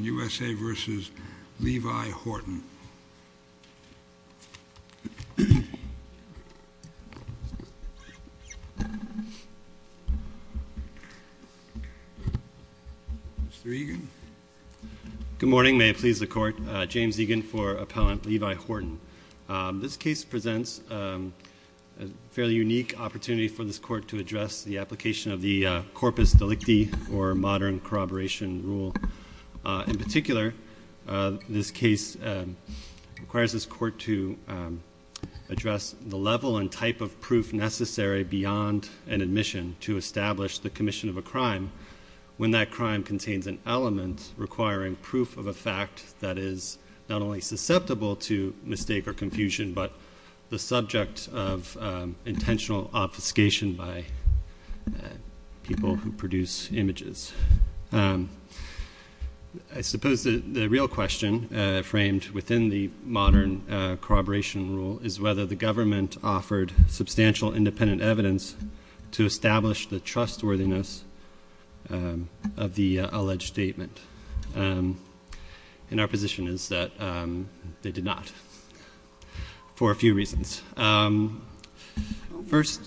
U.S.A. v. Levy-Horton. Good morning. May it please the Court. James Egan for Appellant Levy-Horton. This case presents a fairly unique opportunity for this Court to address the application of the modern corroboration rule. In particular, this case requires this Court to address the level and type of proof necessary beyond an admission to establish the commission of a crime when that crime contains an element requiring proof of a fact that is not only susceptible to mistake or confusion but the subject of intentional obfuscation by people who produce images. I suppose the real question framed within the modern corroboration rule is whether the government offered substantial independent evidence to establish the trustworthiness of the alleged statement. And our position is that they did not, for a few reasons. First,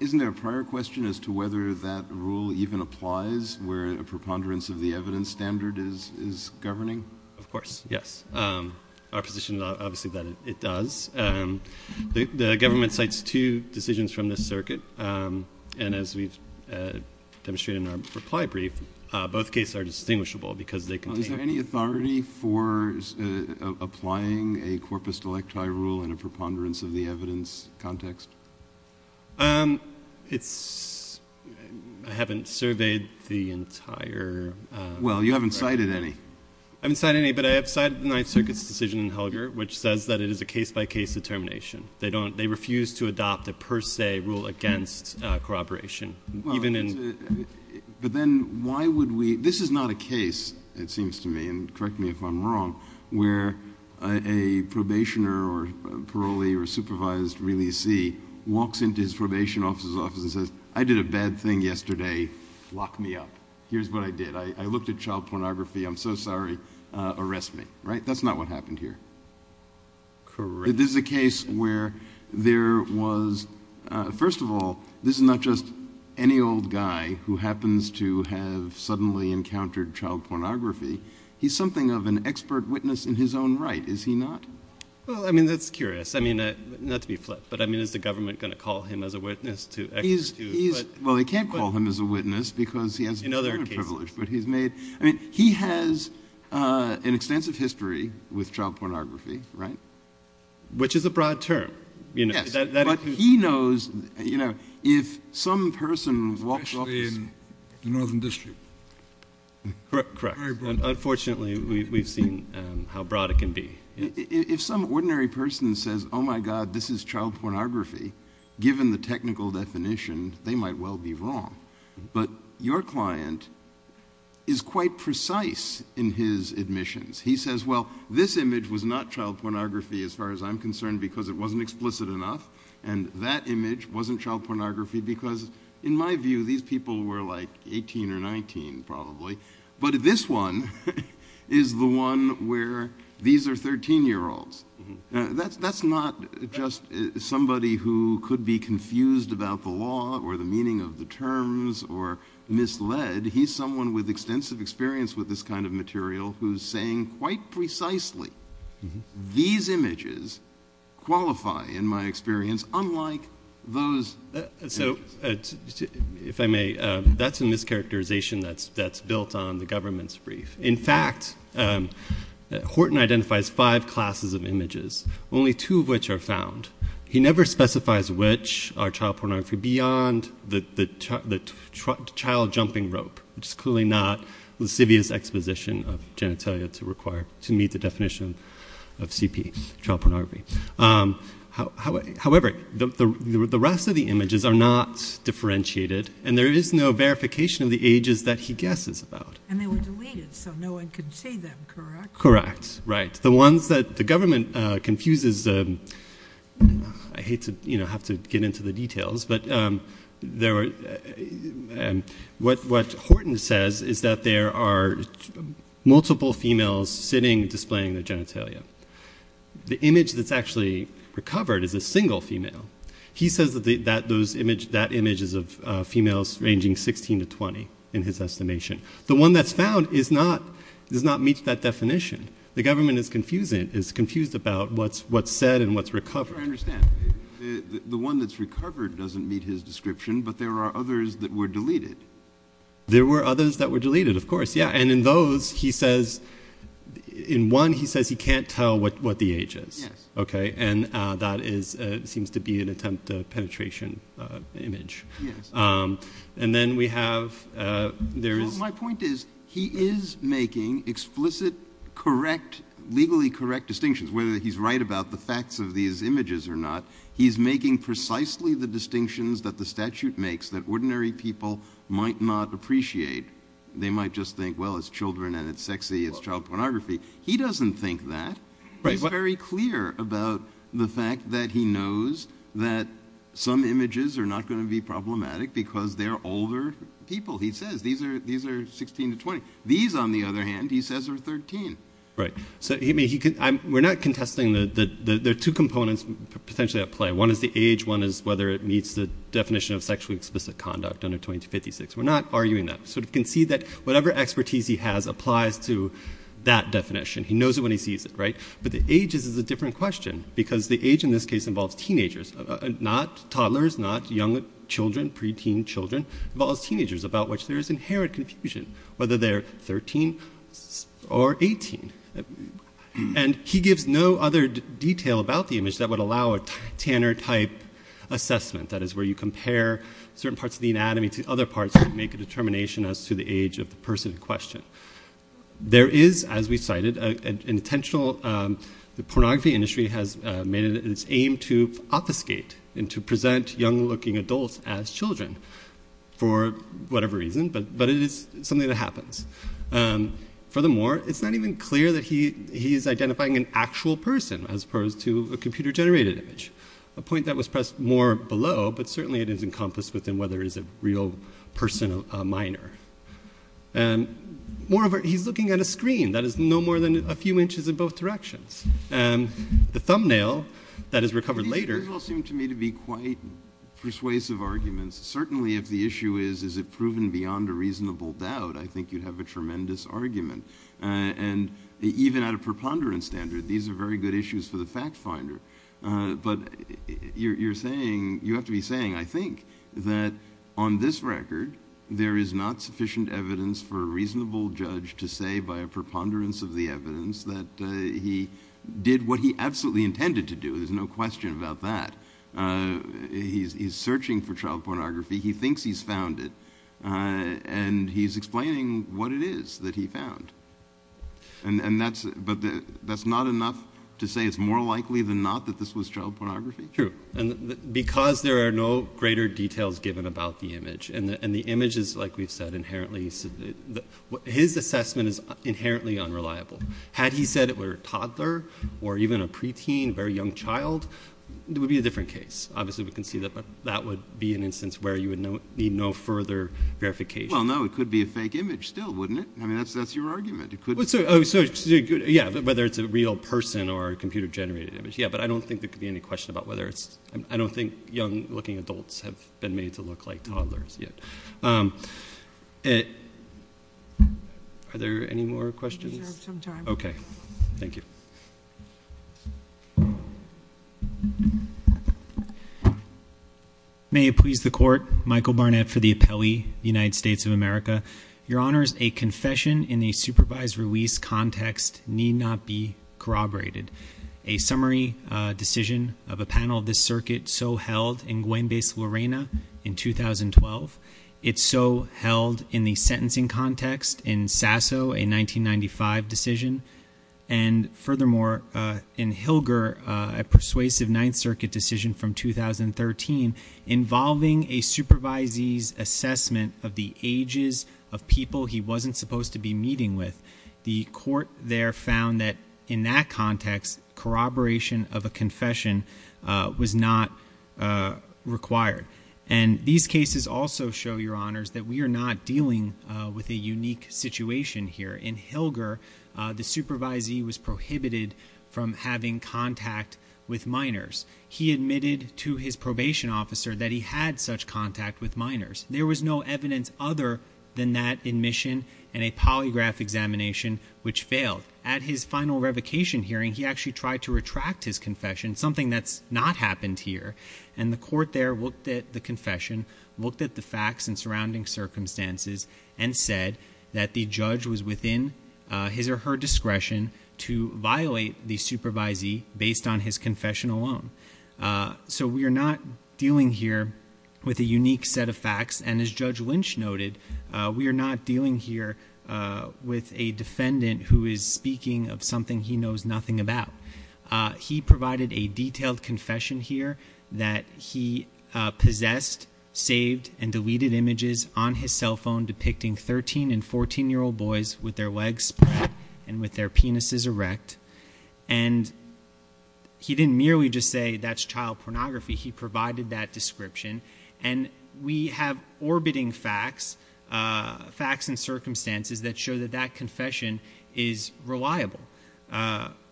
isn't there a prior question as to whether that rule even applies where a preponderance of the evidence standard is governing? Of course, yes. Our position is obviously that it does. The government cites two decisions from this circuit, and as we've demonstrated in our reply brief, both cases are distinguishable because they contain... Is there any authority for applying a corpus delecti rule in a preponderance of the evidence context? I haven't surveyed the entire... Well, you haven't cited any. I haven't cited any, but I have cited the Ninth Circuit's decision in Helger, which says that it is a case-by-case determination. They refuse to adopt a per se rule against corroboration, even in... But then why would we... This is not a case, it seems to me, and correct me if I'm wrong, where a probationer or parolee or supervised releasee walks into his probation officer's office and says, I did a bad thing yesterday. Lock me up. Here's what I did. I looked at child pornography. I'm so sorry. Arrest me, right? That's not what happened here. Correct. This is a case where there was... First of all, this is not just any old guy who happens to have suddenly encountered child pornography. He's something of an expert witness in his own right, is he not? Well, I mean, that's curious. I mean, not to be flipped, but I mean, is the government going to call him as a witness to... Well, they can't call him as a witness because he has a criminal privilege, but he's made... I mean, he has an extensive history with child pornography. If some person walks off... Especially in the Northern District. Correct. Unfortunately, we've seen how broad it can be. If some ordinary person says, oh my God, this is child pornography, given the technical definition, they might well be wrong. But your client is quite precise in his admissions. He says, well, this image was not child pornography as far as I'm concerned because it wasn't child pornography because in my view, these people were like 18 or 19 probably, but this one is the one where these are 13 year olds. That's not just somebody who could be confused about the law or the meaning of the terms or misled. He's someone with extensive experience with this kind of material who's saying quite precisely, these images qualify in my experience unlike those images. If I may, that's a mischaracterization that's built on the government's brief. In fact, Horton identifies five classes of images, only two of which are found. He never specifies which are child pornography beyond the child jumping rope, which is clearly not lascivious exposition of genitalia to meet the definition of CP, child pornography. However, the rest of the images are not differentiated and there is no verification of the ages that he guesses about. And they were deleted so no one could see them, correct? Correct, right. The ones that the government confuses, I hate to have to get into the details, but what Horton says is that there are multiple females sitting displaying their genitalia. The image that's actually recovered is a single female. He says that that image is of females ranging 16 to 20 in his estimation. The one that's found does not meet that definition. The government is confused about what's said and what's recovered. I don't understand. The one that's recovered doesn't meet his description, but there are others that were deleted. There were others that were deleted, of course, yeah. And in those, he says, in one he says he can't tell what the age is. And that seems to be an attempt at a penetration image. And then we have, there is... My point is, he is making explicit, correct, legally correct distinctions, whether he's right about the facts of these images or not. He's making precisely the distinctions that the statute makes that ordinary people might not appreciate. They might just think, well, it's children and it's sexy, it's child pornography. He doesn't think that. He's very clear about the fact that he knows that some images are not going to be problematic because they're older people, he says. These are 16 to 20. These, on the other hand, he says are 13. Right. So we're not contesting the two components potentially at play. One is the age, one is whether it meets the definition of sexually explicit conduct under 2256. We're not arguing that. So we can see that whatever expertise he has applies to that definition. He knows it when he sees it, right? But the age is a different question because the age in this case involves teenagers, not toddlers, not young children, preteen children. It involves preteen. And he gives no other detail about the image that would allow a Tanner type assessment. That is where you compare certain parts of the anatomy to other parts that make a determination as to the age of the person in question. There is, as we cited, an intentional, the pornography industry has made it its aim to obfuscate and to present young looking adults as children for whatever reason, but it is something that happens. Furthermore, it's not even clear that he is identifying an actual person as opposed to a computer generated image, a point that was pressed more below, but certainly it is encompassed within whether it is a real person or a minor. And moreover, he's looking at a screen that is no more than a few inches in both directions. And the thumbnail that is recovered later- It seems to me to be quite persuasive arguments. Certainly if the issue is, is it proven beyond a reasonable doubt, I think you'd have a tremendous argument. And even at a preponderance standard, these are very good issues for the fact finder. But you're saying, you have to be saying, I think that on this record, there is not sufficient evidence for a reasonable judge to say by a preponderance of the evidence that he did what he absolutely intended to do. There's no question about that. He's searching for child pornography. He thinks he's found it. And he's explaining what it is that he found. And that's, but that's not enough to say it's more likely than not that this was child pornography. True. And because there are no greater details given about the image and the image is like we've said inherently, his assessment is inherently unreliable. Had he said it were a toddler or even a preteen, very young child, it would be a different case. Obviously we can see that, but that would be an instance where you would know, need no further verification. Well, no, it could be a fake image still, wouldn't it? I mean, that's, that's your argument. It could. Oh, so good. Yeah. Whether it's a real person or a computer generated image. Yeah. But I don't think there could be any question about whether it's, I don't think young looking adults have been made to look like toddlers yet. Are there any more questions? Okay. Thank you. May it please the court. Michael Barnett for the appellee, United States of America. Your honors, a confession in a supervised release context need not be corroborated. A summary decision of a panel of this circuit so held in Guembes, Llerena in 2012. It's so held in the sentencing context in Sasso in 1995 decision and furthermore in Hilger, a persuasive ninth circuit decision from 2013 involving a supervisees assessment of the ages of people he wasn't supposed to be meeting with. The court there found that in that context corroboration of a confession was not required. And these cases also show your honors that we are not dealing with a unique situation here in Hilger. The supervisee was prohibited from having contact with minors. He admitted to his probation officer that he had such contact with minors. There was no evidence other than that admission and a polygraph examination which failed at his final revocation hearing. He actually tried to retract his confession, something that's not happened here. And the court there looked at the confession, looked at the facts and surrounding circumstances and said that the judge was within his or her discretion to violate the supervisee based on his confession alone. So we are not dealing here with a unique set of facts. And as Judge Lynch noted, we are not dealing here with a defendant who is speaking of something he knows nothing about. He provided a detailed saved and deleted images on his cell phone depicting 13 and 14-year-old boys with their legs split and with their penises erect. And he didn't merely just say that's child pornography. He provided that description. And we have orbiting facts, facts and circumstances that show that that confession is reliable.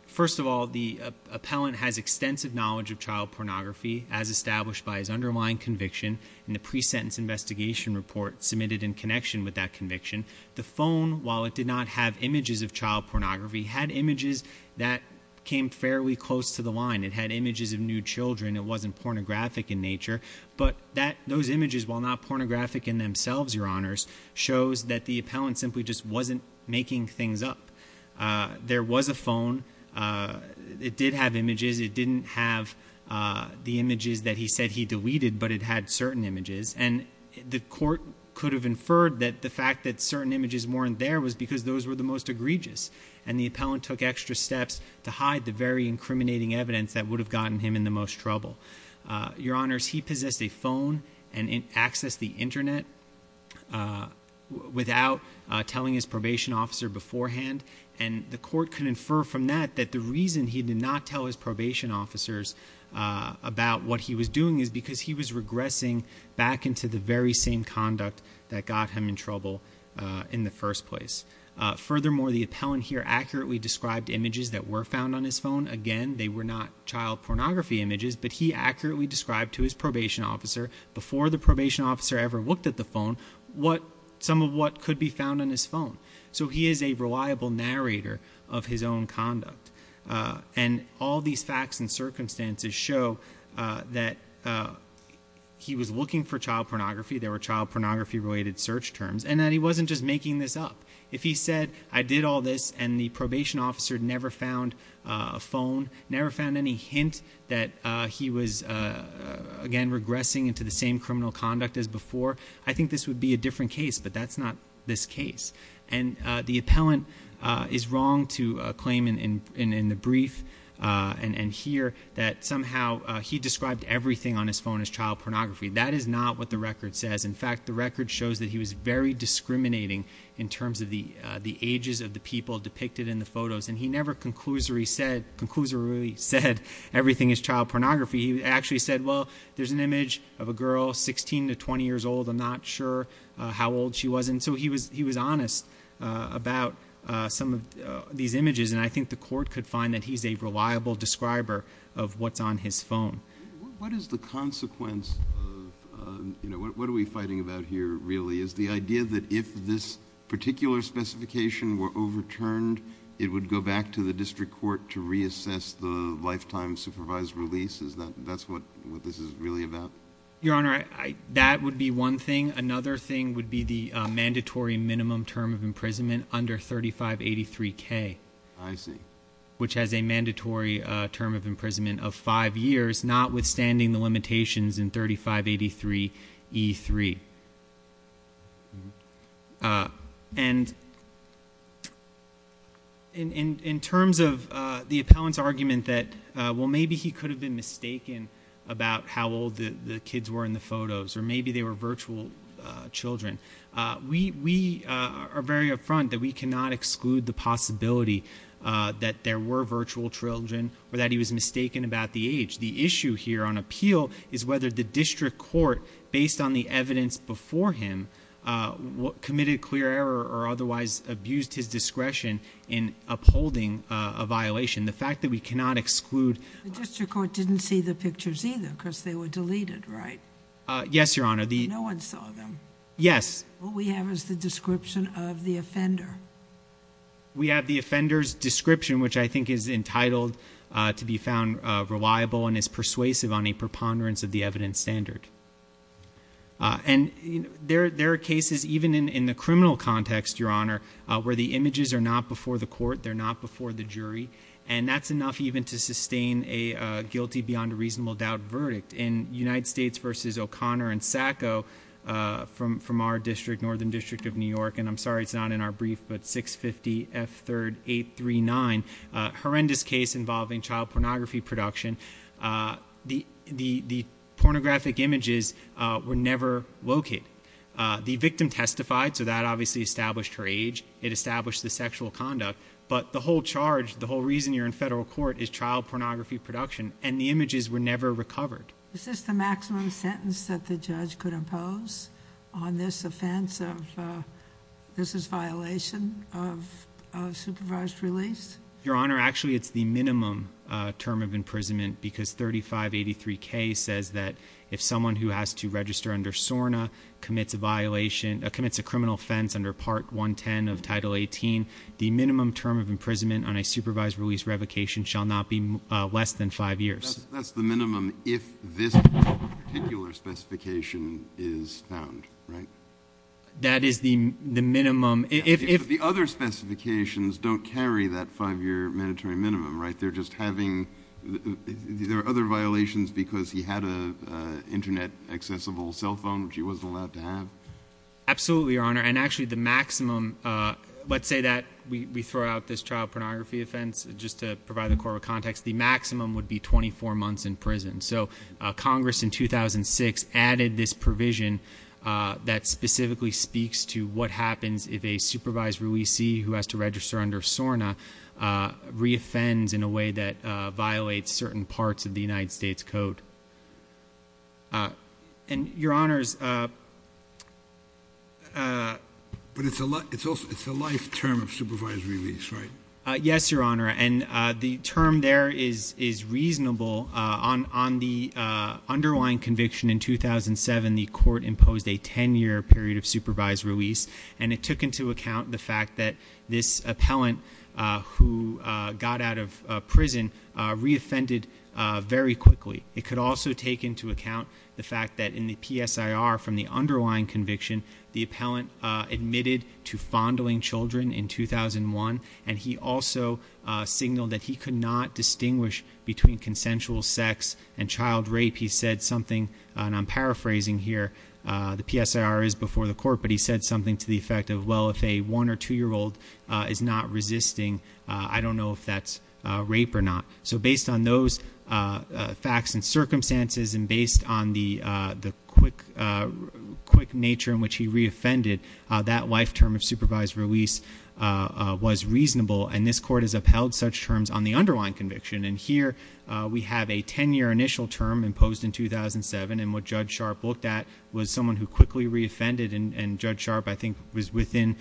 First of all, the appellant has extensive knowledge of child pornography as established by his underlying conviction in the pre-sentence investigation report submitted in connection with that conviction. The phone, while it did not have images of child pornography, had images that came fairly close to the line. It had images of new children. It wasn't pornographic in nature. But those images, while not pornographic in themselves, your honors, shows that the appellant simply just wasn't making things up. There was a phone. It did have images. It didn't have the images that he said he deleted, but it had certain images. And the court could have inferred that the fact that certain images weren't there was because those were the most egregious. And the appellant took extra steps to hide the very incriminating evidence that would have gotten him in the most trouble. Your honors, he possessed a phone and accessed the Internet without telling his probation officer beforehand. And the court could infer from that that the reason he did not tell his probation officers about what he was doing is because he was regressing back into the very same conduct that got him in trouble in the first place. Furthermore, the appellant here accurately described images that were found on his phone. Again, they were not child pornography images, but he accurately described to his probation officer before the probation officer ever looked at the phone what some of what could be found on his phone. So he is a reliable narrator of his own conduct. And all these facts and circumstances show that he was looking for child pornography. There were child pornography related search terms. And that he wasn't just making this up. If he said, I did all this, and the probation officer never found a phone, never found any hint that he was, again, regressing into the same criminal conduct as before, I think this would be a different case. But that's not this case. And the appellant is wrong to claim in the brief and here that somehow he described everything on his phone as child pornography. That is not what the record says. In fact, the record shows that he was very discriminating in terms of the ages of the people depicted in the photos. And he never conclusively said everything is child pornography. He actually said, well, there's an image of a girl 16 to 20 years old. I'm not sure how old she was. And so he was honest about some of these images. And I think the court could find that he's a reliable describer of what's on his phone. What is the consequence of, you know, what are we fighting about here, really? Is the idea that if this particular specification were overturned, it would go back to the district court to reassess the lifetime supervised release? Is that what this is really about? Your Honor, that would be one thing. Another thing would be the mandatory minimum term of imprisonment under 3583K. I see. Which has a mandatory term of imprisonment of five years, notwithstanding the limitations in 3583E3. And in terms of the appellant's argument that, well, maybe he could have been the kid in the photos or maybe they were virtual children. We are very up front that we cannot exclude the possibility that there were virtual children or that he was mistaken about the age. The issue here on appeal is whether the district court, based on the evidence before him, committed a clear error or otherwise abused his discretion in upholding a violation. The fact that we cannot exclude The district court didn't see the pictures either because they were deleted, right? Yes, Your Honor. No one saw them. Yes. What we have is the description of the offender. We have the offender's description, which I think is entitled to be found reliable and is persuasive on a preponderance of the evidence standard. And there are cases, even in the criminal context, Your Honor, where the images are not before the court, they're not before the jury. And that's enough even to sustain a guilty beyond a reasonable doubt verdict. In United States versus O'Connor and Sacco from our district, Northern District of New York, and I'm sorry it's not in our brief, but 650F3839, a horrendous case involving child pornography production, the pornographic images were never located. The victim testified, so that obviously established her age. It established the sexual conduct. But the whole charge, the whole reason you're in federal court is child pornography production and the images were never recovered. Is this the maximum sentence that the judge could impose on this offense of, this is violation of supervised release? Your Honor, actually it's the minimum term of imprisonment because 3583K says that if someone who has to register under SORNA commits a violation, commits a criminal offense under Part 110 of Title 18, the minimum term of imprisonment on a supervised release revocation shall not be less than five years. That's the minimum if this particular specification is found, right? That is the minimum if... The other specifications don't carry that five-year mandatory minimum, right? They're just having, there are other violations because he had an internet accessible cell phone which he wasn't allowed to have. Absolutely, Your Honor. And actually the maximum, let's say that we throw out this child pornography offense, just to provide the core of context, the maximum would be 24 months in prison. So Congress in 2006 added this provision that specifically speaks to what happens if a supervised releasee who has to register under SORNA re-offends in a way that violates certain parts of the United States Code. And Your Honors... But it's a life term of supervised release, right? Yes, Your Honor. And the term there is reasonable. On the underlying conviction in 2007, the fact that this appellant who got out of prison re-offended very quickly. It could also take into account the fact that in the PSIR from the underlying conviction, the appellant admitted to fondling children in 2001 and he also signaled that he could not distinguish between consensual sex and child rape. He said something, and I'm paraphrasing here, the PSIR is before the court, but he said something to the effect of, well if a one or two year old is not resisting, I don't know if that's rape or not. So based on those facts and circumstances and based on the quick nature in which he re-offended, that life term of supervised release was reasonable. And this court has upheld such terms on the underlying conviction. And here we have a 10 year initial term imposed in 2007 and what Judge Sharpe looked at was someone who quickly re-offended and Judge Sharpe I think was within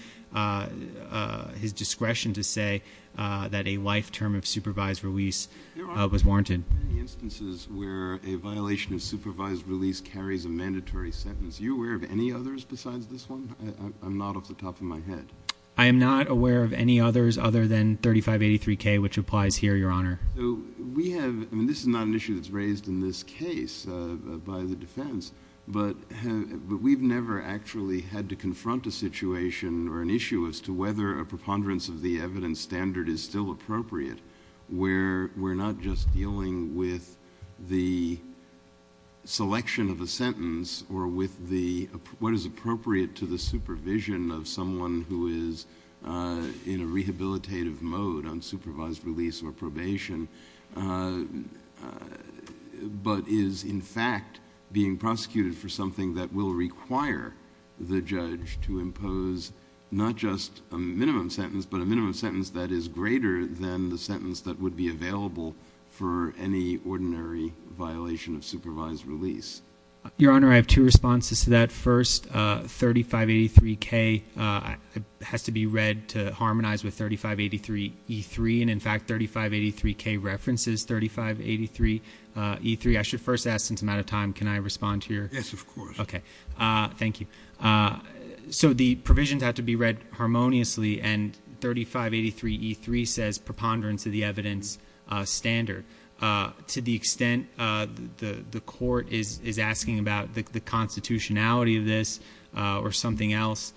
his discretion to say that a life term of supervised release was warranted. There are many instances where a violation of supervised release carries a mandatory sentence. Are you aware of any others besides this one? I'm not off the top of my head. I am not aware of any others other than 3583K which applies here, Your Honor. We have, and this is not an issue that's raised in this case by the defense, but we've never actually had to confront a situation or an issue as to whether a preponderance of the evidence standard is still appropriate where we're not just dealing with the selection of a sentence or with what is appropriate to the supervision of someone who is in a position, but is in fact being prosecuted for something that will require the judge to impose not just a minimum sentence, but a minimum sentence that is greater than the sentence that would be available for any ordinary violation of supervised release. Your Honor, I have two responses to that. First, 3583K has to be read to harmonize with 3583E3, and in fact, 3583K references 3583E3. I should first ask, since I'm out of time, can I respond to your- Yes, of course. Thank you. So the provisions have to be read harmoniously, and 3583E3 says preponderance of the evidence standard. To the extent the court is asking about the constitutionality of this or something else,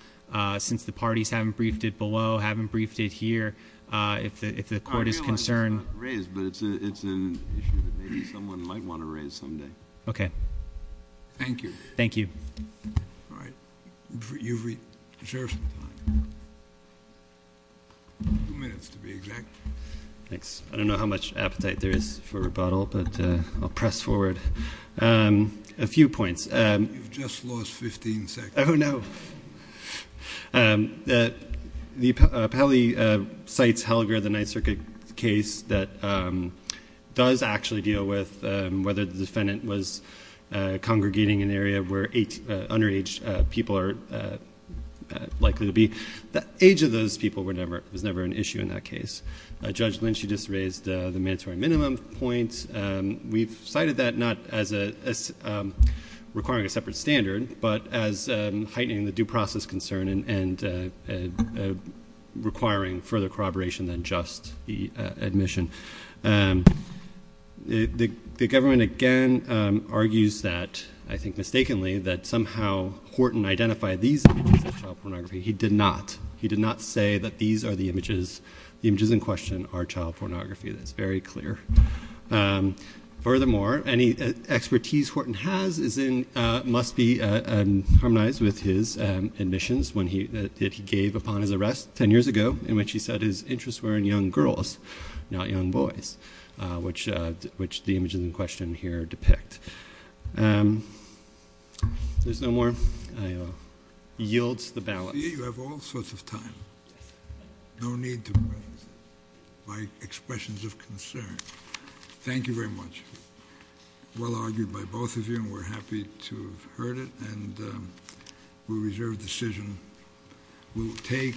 since the parties haven't briefed it below, haven't briefed it here, if the court is concerned- I realize it's not raised, but it's an issue that maybe someone might want to raise someday. Okay. Thank you. Thank you. All right. You've reserved some time. Two minutes, to be exact. Thanks. I don't know how much appetite there is for rebuttal, but I'll press forward. A few points. You've just lost 15 seconds. Oh, no. The appellee cites Helger, the Ninth Circuit case that does actually deal with whether the defendant was congregating in an area where underage people are likely to be. The age of those people was never an issue in that case. Judge Lynch, you just raised the mandatory minimum points. We've cited that not as requiring a separate standard, but as heightening the due process concern and requiring further corroboration than just the admission. The government, again, argues that, I think mistakenly, that somehow Horton identified these images of child pornography. He did not. He did not say that these are the images. The images in question are child pornography. That's very clear. Furthermore, any expertise Horton has must be harmonized with his admissions that he gave upon his arrest 10 years ago in which he said his interests were in young girls, not young boys, which the images in question here depict. There's no more. He yields the ballot. You have all sorts of time. No need to expressions of concern. Thank you very much. Well argued by both of you, and we're happy to have heard it, and we reserve the decision. We will take